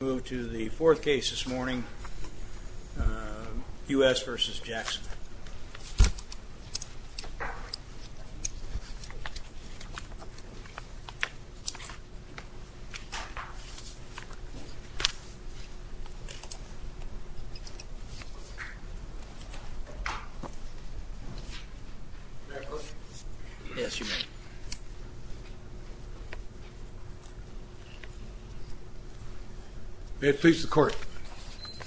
Move to the fourth case this morning, uh, U. S. Versus Jackson. Yes, you may. May it please the court.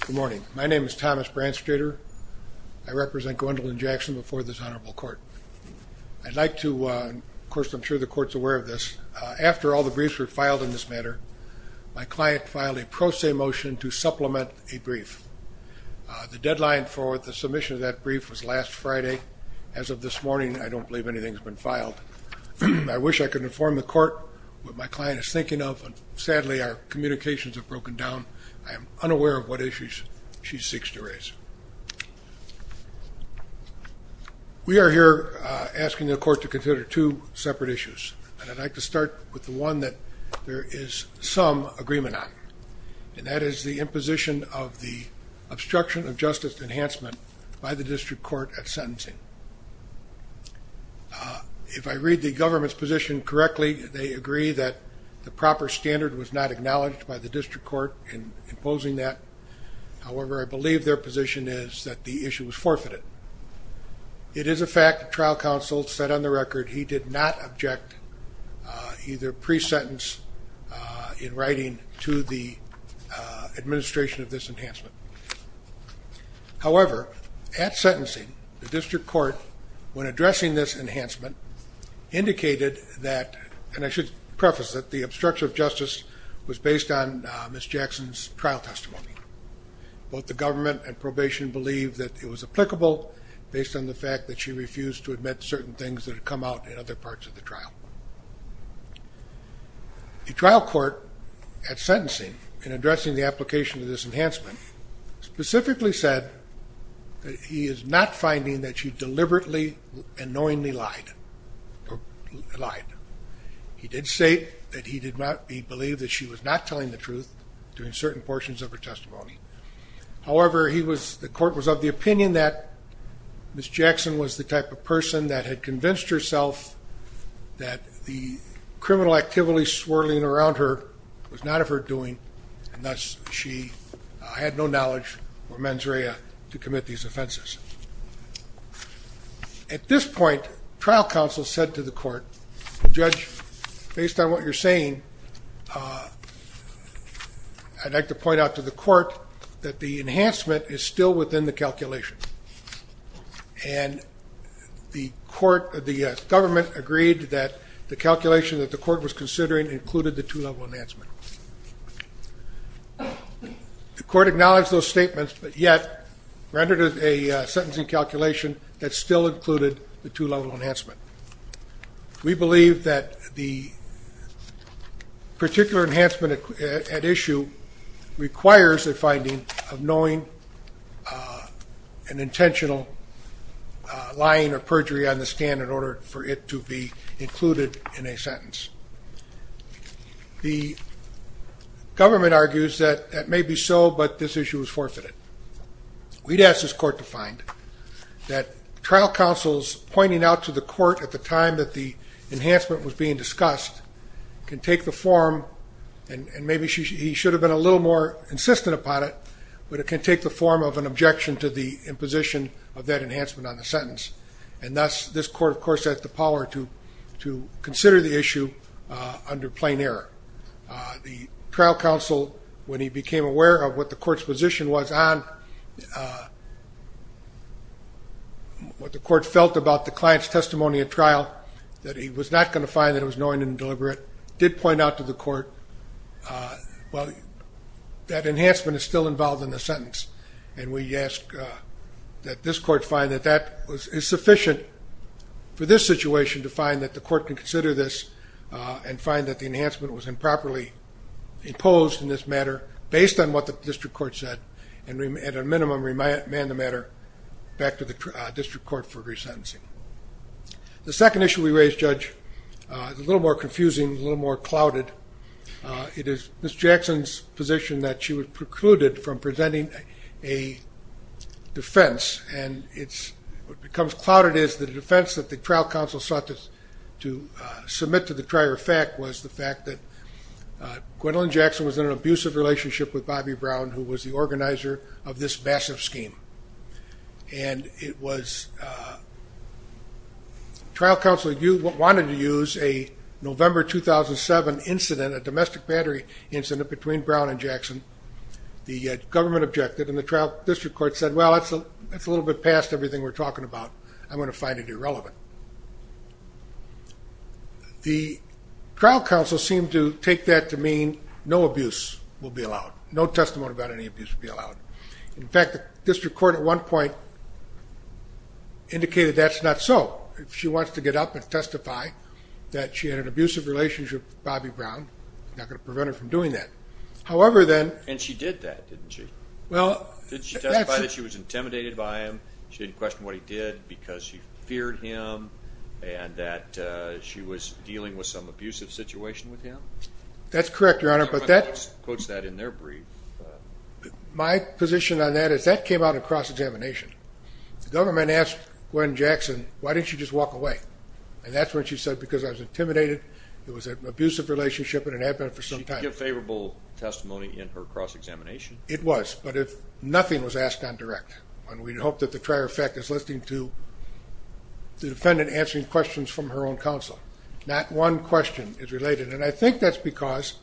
Good morning. My name is Thomas Branstrader. I represent Gwendolyn Jackson before this honorable court. I'd like to, of course, I'm sure the court's aware of this. After all the briefs were filed in this matter, my client filed a pro se motion to supplement a brief. The deadline for the submission of that brief was last Friday. As of this morning, I don't believe anything's been filed. I wish I could inform the court what my client is thinking of. And sadly, our communications have broken down. I am unaware of what issues she seeks to raise. We are here asking the court to consider two separate issues, and I'd like to start with the one that there is some agreement on, and that is the imposition of the obstruction of justice enhancement by the district court at sentencing. Uh, if I read the government's position correctly, they agree that the proper standard was not acknowledged by the district court and imposing that. However, I believe their position is that the issue was forfeited. It is a fact trial counsel said on the record he did not object either pre sentence in writing to the administration of this enhancement. However, at sentencing, the district court, when addressing this enhancement indicated that, and I should preface that the obstruction of justice was based on Miss Jackson's trial testimony. Both the government and probation believe that it was applicable based on the fact that she refused to admit certain things that had come out in other parts of the trial. The trial court at sentencing in addressing the application of this specifically said that he is not finding that she deliberately and knowingly lied or lied. He did say that he did not believe that she was not telling the truth during certain portions of her testimony. However, he was, the court was of the opinion that Miss Jackson was the type of person that had convinced herself that the criminal activity swirling around her was not of her doing. And thus she had no knowledge or mens rea to commit these offenses. At this point, trial counsel said to the court, judge, based on what you're saying, uh, I'd like to point out to the court that the enhancement is still within the calculation and the court, the government agreed that the calculation that the court was considering included the two level enhancement. The court acknowledged those statements, but yet rendered a sentencing calculation that still included the two level enhancement. We believe that the particular enhancement at issue requires a finding of knowing, uh, an intentional, uh, lying or perjury on the scan in order for it to be a sentence. The government argues that that may be so, but this issue was forfeited. We'd asked this court to find that trial counsel's pointing out to the court at the time that the enhancement was being discussed can take the form and maybe she, he should have been a little more insistent upon it, but it can take the form of an objection to the imposition of that enhancement on the sentence. And that's this court, of course, has the power to, to consider the issue, uh, under plain error. Uh, the trial counsel, when he became aware of what the court's position was on, uh, what the court felt about the client's testimony at trial, that he was not going to find that it was knowing and deliberate did point out to the court. Uh, well, that enhancement is still involved in the sentence. And we asked, uh, that this court find that that was sufficient for this situation to find that the court can consider this, uh, and find that the enhancement was improperly imposed in this matter based on what the district court said, and at a minimum, remand the matter back to the district court for resentencing. The second issue we raised judge, uh, a little more confusing, a little more clouded, uh, it is Ms. A defense and it's what becomes clouded is the defense that the trial counsel sought to, to, uh, submit to the trier fact was the fact that, uh, Gwendolyn Jackson was in an abusive relationship with Bobby Brown, who was the organizer of this massive scheme. And it was, uh, trial counsel, you wanted to use a November, 2007 incident, a domestic battery incident between Brown and Jackson, the government objected. And the trial district court said, well, that's a, that's a little bit past everything we're talking about. I'm going to find it irrelevant. The trial counsel seemed to take that to mean no abuse will be allowed. No testimony about any abuse to be allowed. In fact, the district court at one point indicated that's not so if she wants to get up and testify that she had an abusive relationship with Bobby Brown, not going to prevent her from doing that. However, then, and she did that. Didn't she? Well, she was intimidated by him. She didn't question what he did because she feared him and that, uh, she was dealing with some abusive situation with him. That's correct, your honor. But that quotes that in their brief, my position on that is that came out of cross-examination. The government asked when Jackson, why didn't you just walk away? And that's when she said, because I was intimidated, it was an abusive relationship and it had been for some time, favorable testimony in her cross-examination. It was, but if nothing was asked on direct, when we'd hope that the trier of fact is listening to the defendant answering questions from her own counsel, not one question is related. And I think that's because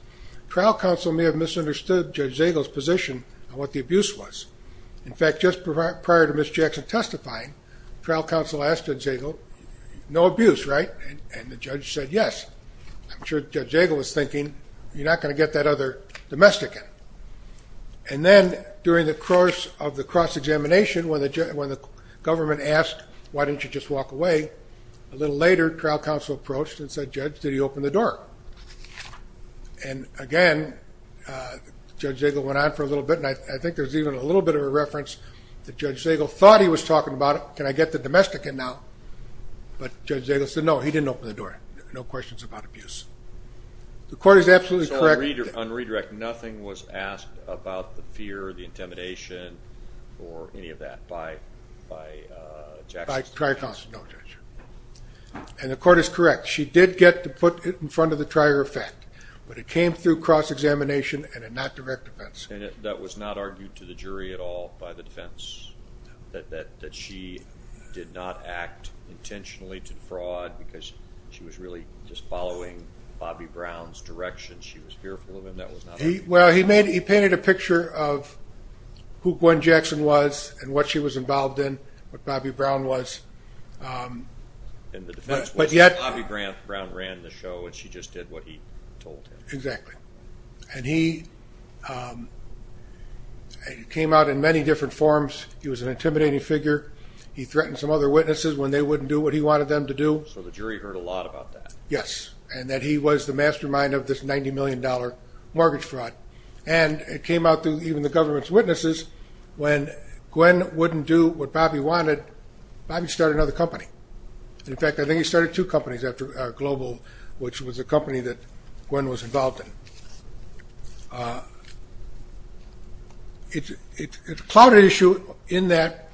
trial counsel may have misunderstood judge Zegel's position on what the abuse was. In fact, just prior to Ms. Jackson testifying, trial counsel asked judge Zegel, no abuse, right? And the judge said, yes, I'm sure judge Zegel was thinking, you're not going to get that other domesticant. And then during the course of the cross-examination, when the judge, when the government asked, why didn't you just walk away? A little later, trial counsel approached and said, judge, did he open the door? And again, uh, judge Zegel went on for a little bit. And I think there's even a little bit of a reference that judge Zegel thought he was talking about it. Can I get the domesticant now? But judge Zegel said, no, he didn't open the door. No questions about abuse. The court is absolutely correct. On redirect, nothing was asked about the fear, the intimidation or any of that by, by, uh, by trial counsel. And the court is correct. She did get to put it in front of the trier effect, but it came through cross-examination and a not direct defense. That was not argued to the jury at all by the defense that, that, that she did not act intentionally to fraud because she was really just following Bobby Brown's direction. She was fearful of him. That was not, well, he made, he painted a picture of who Gwen Jackson was and what she was involved in, what Bobby Brown was, um, and the defense, but yet Brown ran the show and she just did what he told him. Exactly. And he, um, came out in many different forms. He was an intimidating figure. He threatened some other witnesses when they wouldn't do what he wanted them to do. So the jury heard a lot about that. Yes. And that he was the mastermind of this $90 million mortgage fraud. And it came out through even the government's witnesses when Gwen wouldn't do what Bobby wanted, Bobby started another company. In fact, I think he started two companies after, uh, Global, which was a company that Gwen was involved in. Uh, it's, it's, it's a clouded issue in that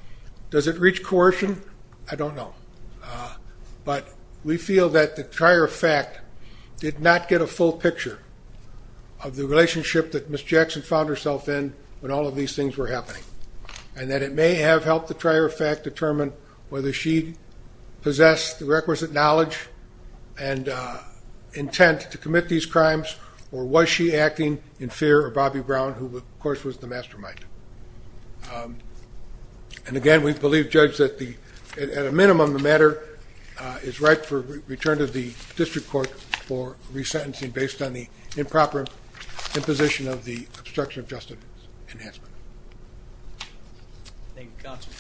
does it reach coercion? I don't know. Uh, but we feel that the trier of fact did not get a full picture of the relationship that Ms. Jackson found herself in when all of these things were happening and that it may have helped the trier of fact, determine whether she possessed the requisite knowledge and, uh, intent to commit these crimes or was she acting in fear of Bobby Brown, who of course was the mastermind. Um, and again, we believe judge that the, at a minimum, the matter, uh, is right for return to the district court for resentencing based on the improper imposition of the obstruction of justice enhancement. Thank you.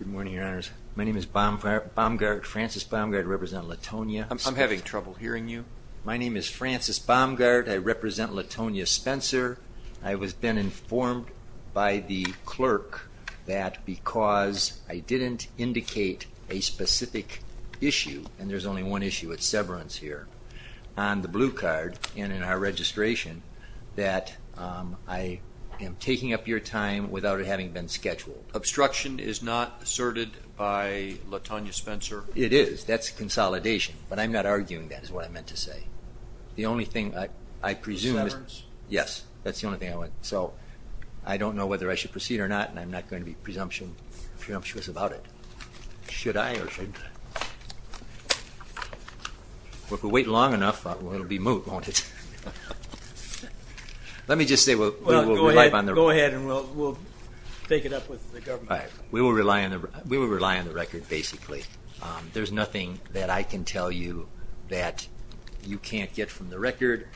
Good morning. Your honors. My name is bomb fire. Bomb guard, Francis bomb guard represent Latonia. I'm having trouble hearing you. My name is Francis bomb guard. I represent Latonia Spencer. I was been informed by the clerk that because I didn't indicate a specific issue and there's only one issue with severance here on the blue card and in our registration that, um, I am taking up your time without it having been scheduled. Obstruction is not asserted by Latonia Spencer. It is that's consolidation, but I'm not arguing that is what I meant to say. The only thing I presume is yes. That's the only thing I went. So I don't know whether I should proceed or not, and I'm not going to be presumption about it. Should I, or should we wait long enough? Well, it'll be moved on. Let me just say, well, go ahead and we'll, we'll take it up with the government. We will rely on the, we will rely on the record. Basically. Um, there's nothing that I can tell you that you can't get from the record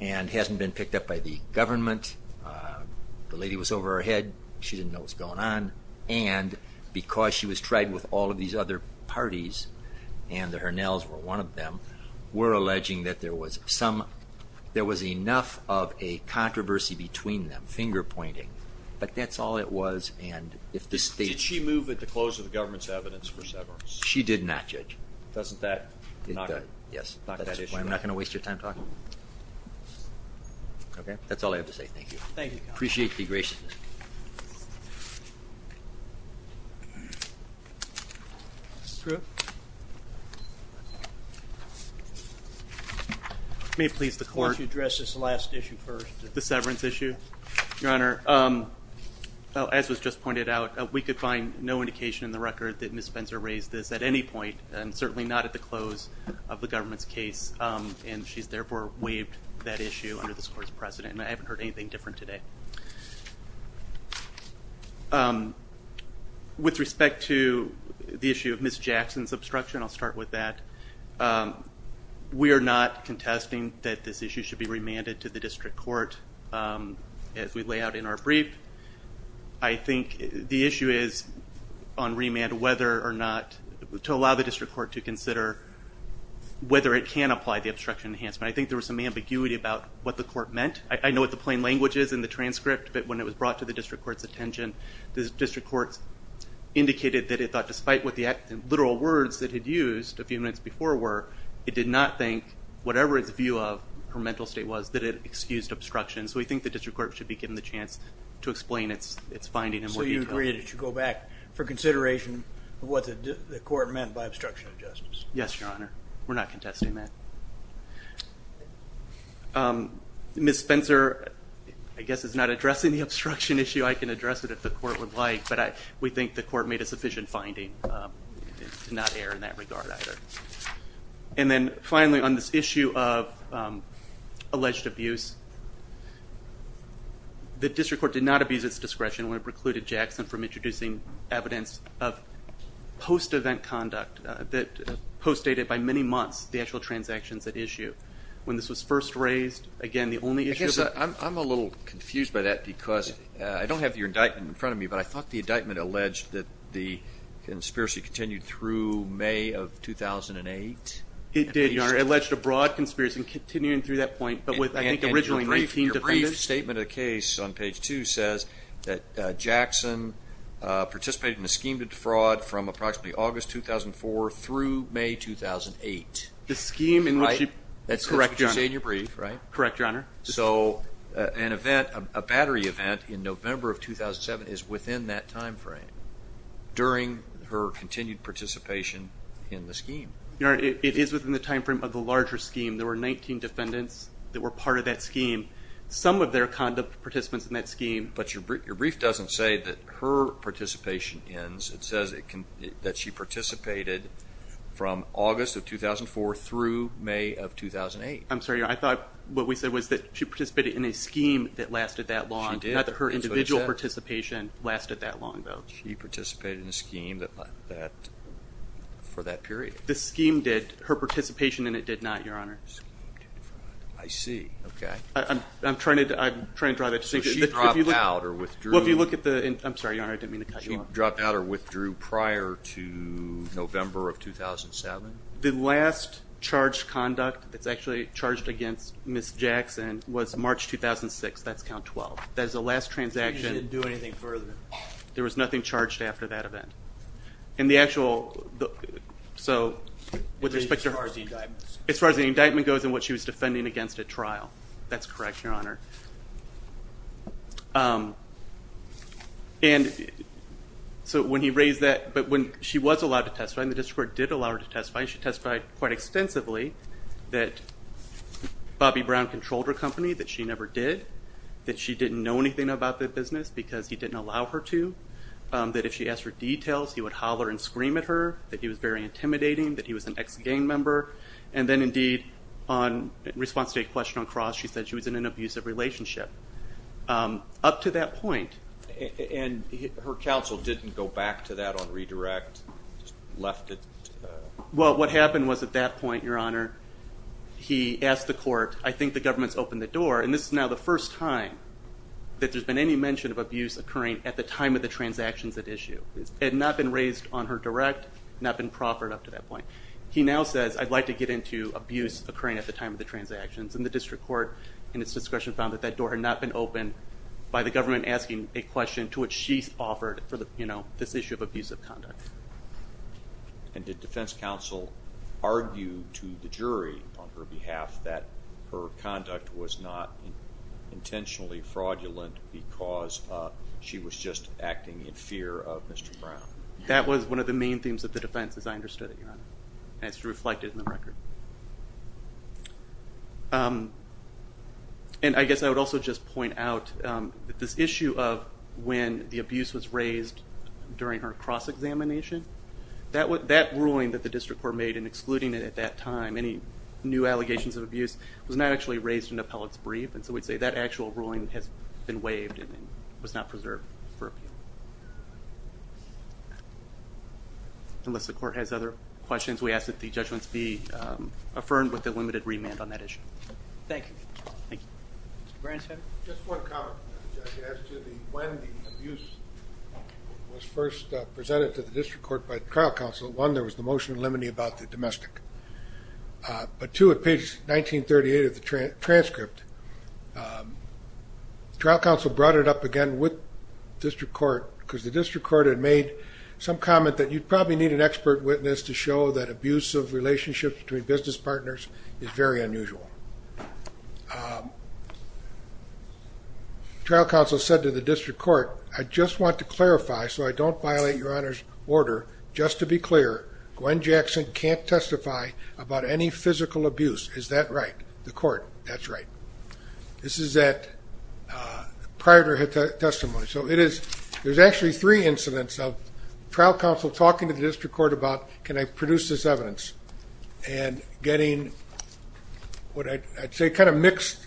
and hasn't been picked up by the government. Uh, the lady was over her head. She didn't know what's going on. And because she was tried with all of these other parties and the Hernells were one of them, we're alleging that there was some, there was enough of a controversy between them finger pointing, but that's all it was. And if the state, she moved it to close with the government's evidence for severance, she did not judge. Doesn't that, yes, I'm not going to waste your time talking. Okay. That's all I have to say. Thank you. Thank you. Appreciate the graciousness. May it please the court to address this last issue for the severance issue, Your Honor. Um, well, as was just pointed out, we could find no indication in the record that Ms. Spencer raised this at any point, and certainly not at the close of the government's case. Um, and she's therefore waived that issue under this court's precedent. And I haven't heard anything different today. Um, with respect to the issue of Ms. Jackson's obstruction, I'll start with that. Um, we are not contesting that this issue should be remanded to the district court. Um, as we lay out in our brief, I think the issue is on remand, whether or not to allow the district court to consider whether it can apply the obstruction enhancement. I think there was some ambiguity about what the court meant. I know what the plain language is in the transcript, but when it was brought to the district court's attention, the district court indicated that it thought despite what the literal words that had used a few minutes before were, it did not think whatever its view of her mental state was that it excused obstruction. So we think the district court should be given the chance to explain its, its finding. So you agree that it should go back for consideration of what the court meant by obstruction of justice. Yes, Your Honor. We're not contesting that. Um, Ms. Spencer, I guess it's not addressing the obstruction issue. I can address it if the court would like, but I, we think the court made a sufficient finding, um, to not err in that regard either. And then finally on this issue of, um, alleged abuse, the district court did not abuse its discretion when it precluded Jackson from introducing evidence of post event conduct that post dated by many months, the actual transactions at issue when this was first raised. Again, the only issue, I'm a little confused by that because I don't have your indictment in front of me, but I thought the indictment alleged that the 2008. It did, Your Honor. Alleged a broad conspiracy and continuing through that point, but with I think originally 19 defendants. Statement of the case on page two says that, uh, Jackson, uh, participated in a scheme to defraud from approximately August, 2004 through May, 2008. The scheme in which she. That's what you say in your brief, right? Correct, Your Honor. So, uh, an event, a battery event in November of 2007 is within that timeframe during her continued participation in the scheme. Your Honor, it is within the timeframe of the larger scheme. There were 19 defendants that were part of that scheme. Some of their conduct participants in that scheme. But your brief, your brief doesn't say that her participation ends. It says it can, that she participated from August of 2004 through May of 2008. I'm sorry. I thought what we said was that she participated in a scheme that lasted that long, not that her individual participation lasted that long though. She participated in a scheme that, that for that period, the scheme did her participation and it did not, Your Honor. I see. Okay. I'm, I'm trying to, I'm trying to drive it out or withdrew. Well, if you look at the, I'm sorry, Your Honor, I didn't mean to cut you off. Dropped out or withdrew prior to November of 2007. The last charged conduct that's actually charged against Ms. Jackson was March, 2006. That's count 12. That is the last transaction. Didn't do anything further. There was nothing charged after that event. And the actual, so with respect to her, as far as the indictment goes and what she was defending against at trial. That's correct, Your Honor. And so when he raised that, but when she was allowed to testify and the district court did allow her to testify, she testified quite extensively that Bobby Brown controlled her company, that she never did, that she didn't know anything about the business because he didn't allow her to, that if she asked for details, he would holler and scream at her, that he was very intimidating, that he was an ex gang member. And then indeed on response to a question on cross, she said she was in an abusive relationship. Up to that point. And her counsel didn't go back to that on redirect, left it? Well, what happened was at that point, Your Honor, he asked the court, I think the government's opened the door. And this is now the first time that there's been any mention of abuse occurring at the time of the transactions at issue and not been raised on her direct, not been proffered up to that point. He now says, I'd like to get into abuse occurring at the time of the transactions and the district court and its discretion found that that door had not been opened by the government asking a question to what she's offered for the, you know, this issue of abusive conduct. And did defense counsel argue to the jury on her behalf that her conduct was not intentionally fraudulent because she was just acting in fear of Mr. Brown? That was one of the main themes of the defense as I understood it, Your Honor. And it's reflected in the record. And I guess I would also just point out that this issue of when the abuse was examined, that ruling that the district court made in excluding it at that time, any new allegations of abuse was not actually raised in the appellate's brief. And so we'd say that actual ruling has been waived and was not preserved. Unless the court has other questions, we ask that the judgements be affirmed with the limited remand on that issue. Thank you. Thank you. When the abuse was first presented to the district court by the trial counsel, one, there was the motion limiting about the domestic, but two, at page 1938 of the transcript, trial counsel brought it up again with district court because the district court had made some comment that you'd probably need an expert witness to show that abuse of relationships between business partners is very unusual. Um, trial counsel said to the district court, I just want to clarify, so I don't violate Your Honor's order, just to be clear, Gwen Jackson can't testify about any physical abuse, is that right? The court, that's right. This is that, uh, prior to her testimony. So it is, there's actually three incidents of trial counsel talking to the district court about, can I produce this evidence and getting what I'd say, kind of mixed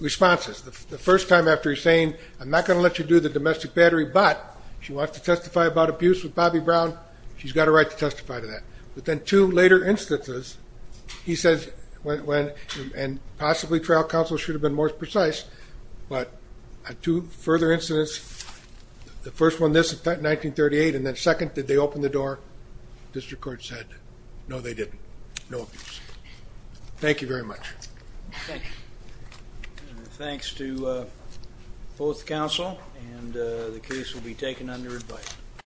responses. The first time after he's saying, I'm not going to let you do the domestic battery, but she wants to testify about abuse with Bobby Brown. She's got a right to testify to that. But then two later instances, he says when, and possibly trial counsel should have been more precise, but two further incidents, the first one, this 1938, and then second, did they open the door? District court said, no, they didn't. No abuse. Thank you very much. Thanks to, uh, both counsel and, uh, the case will be taken under advice.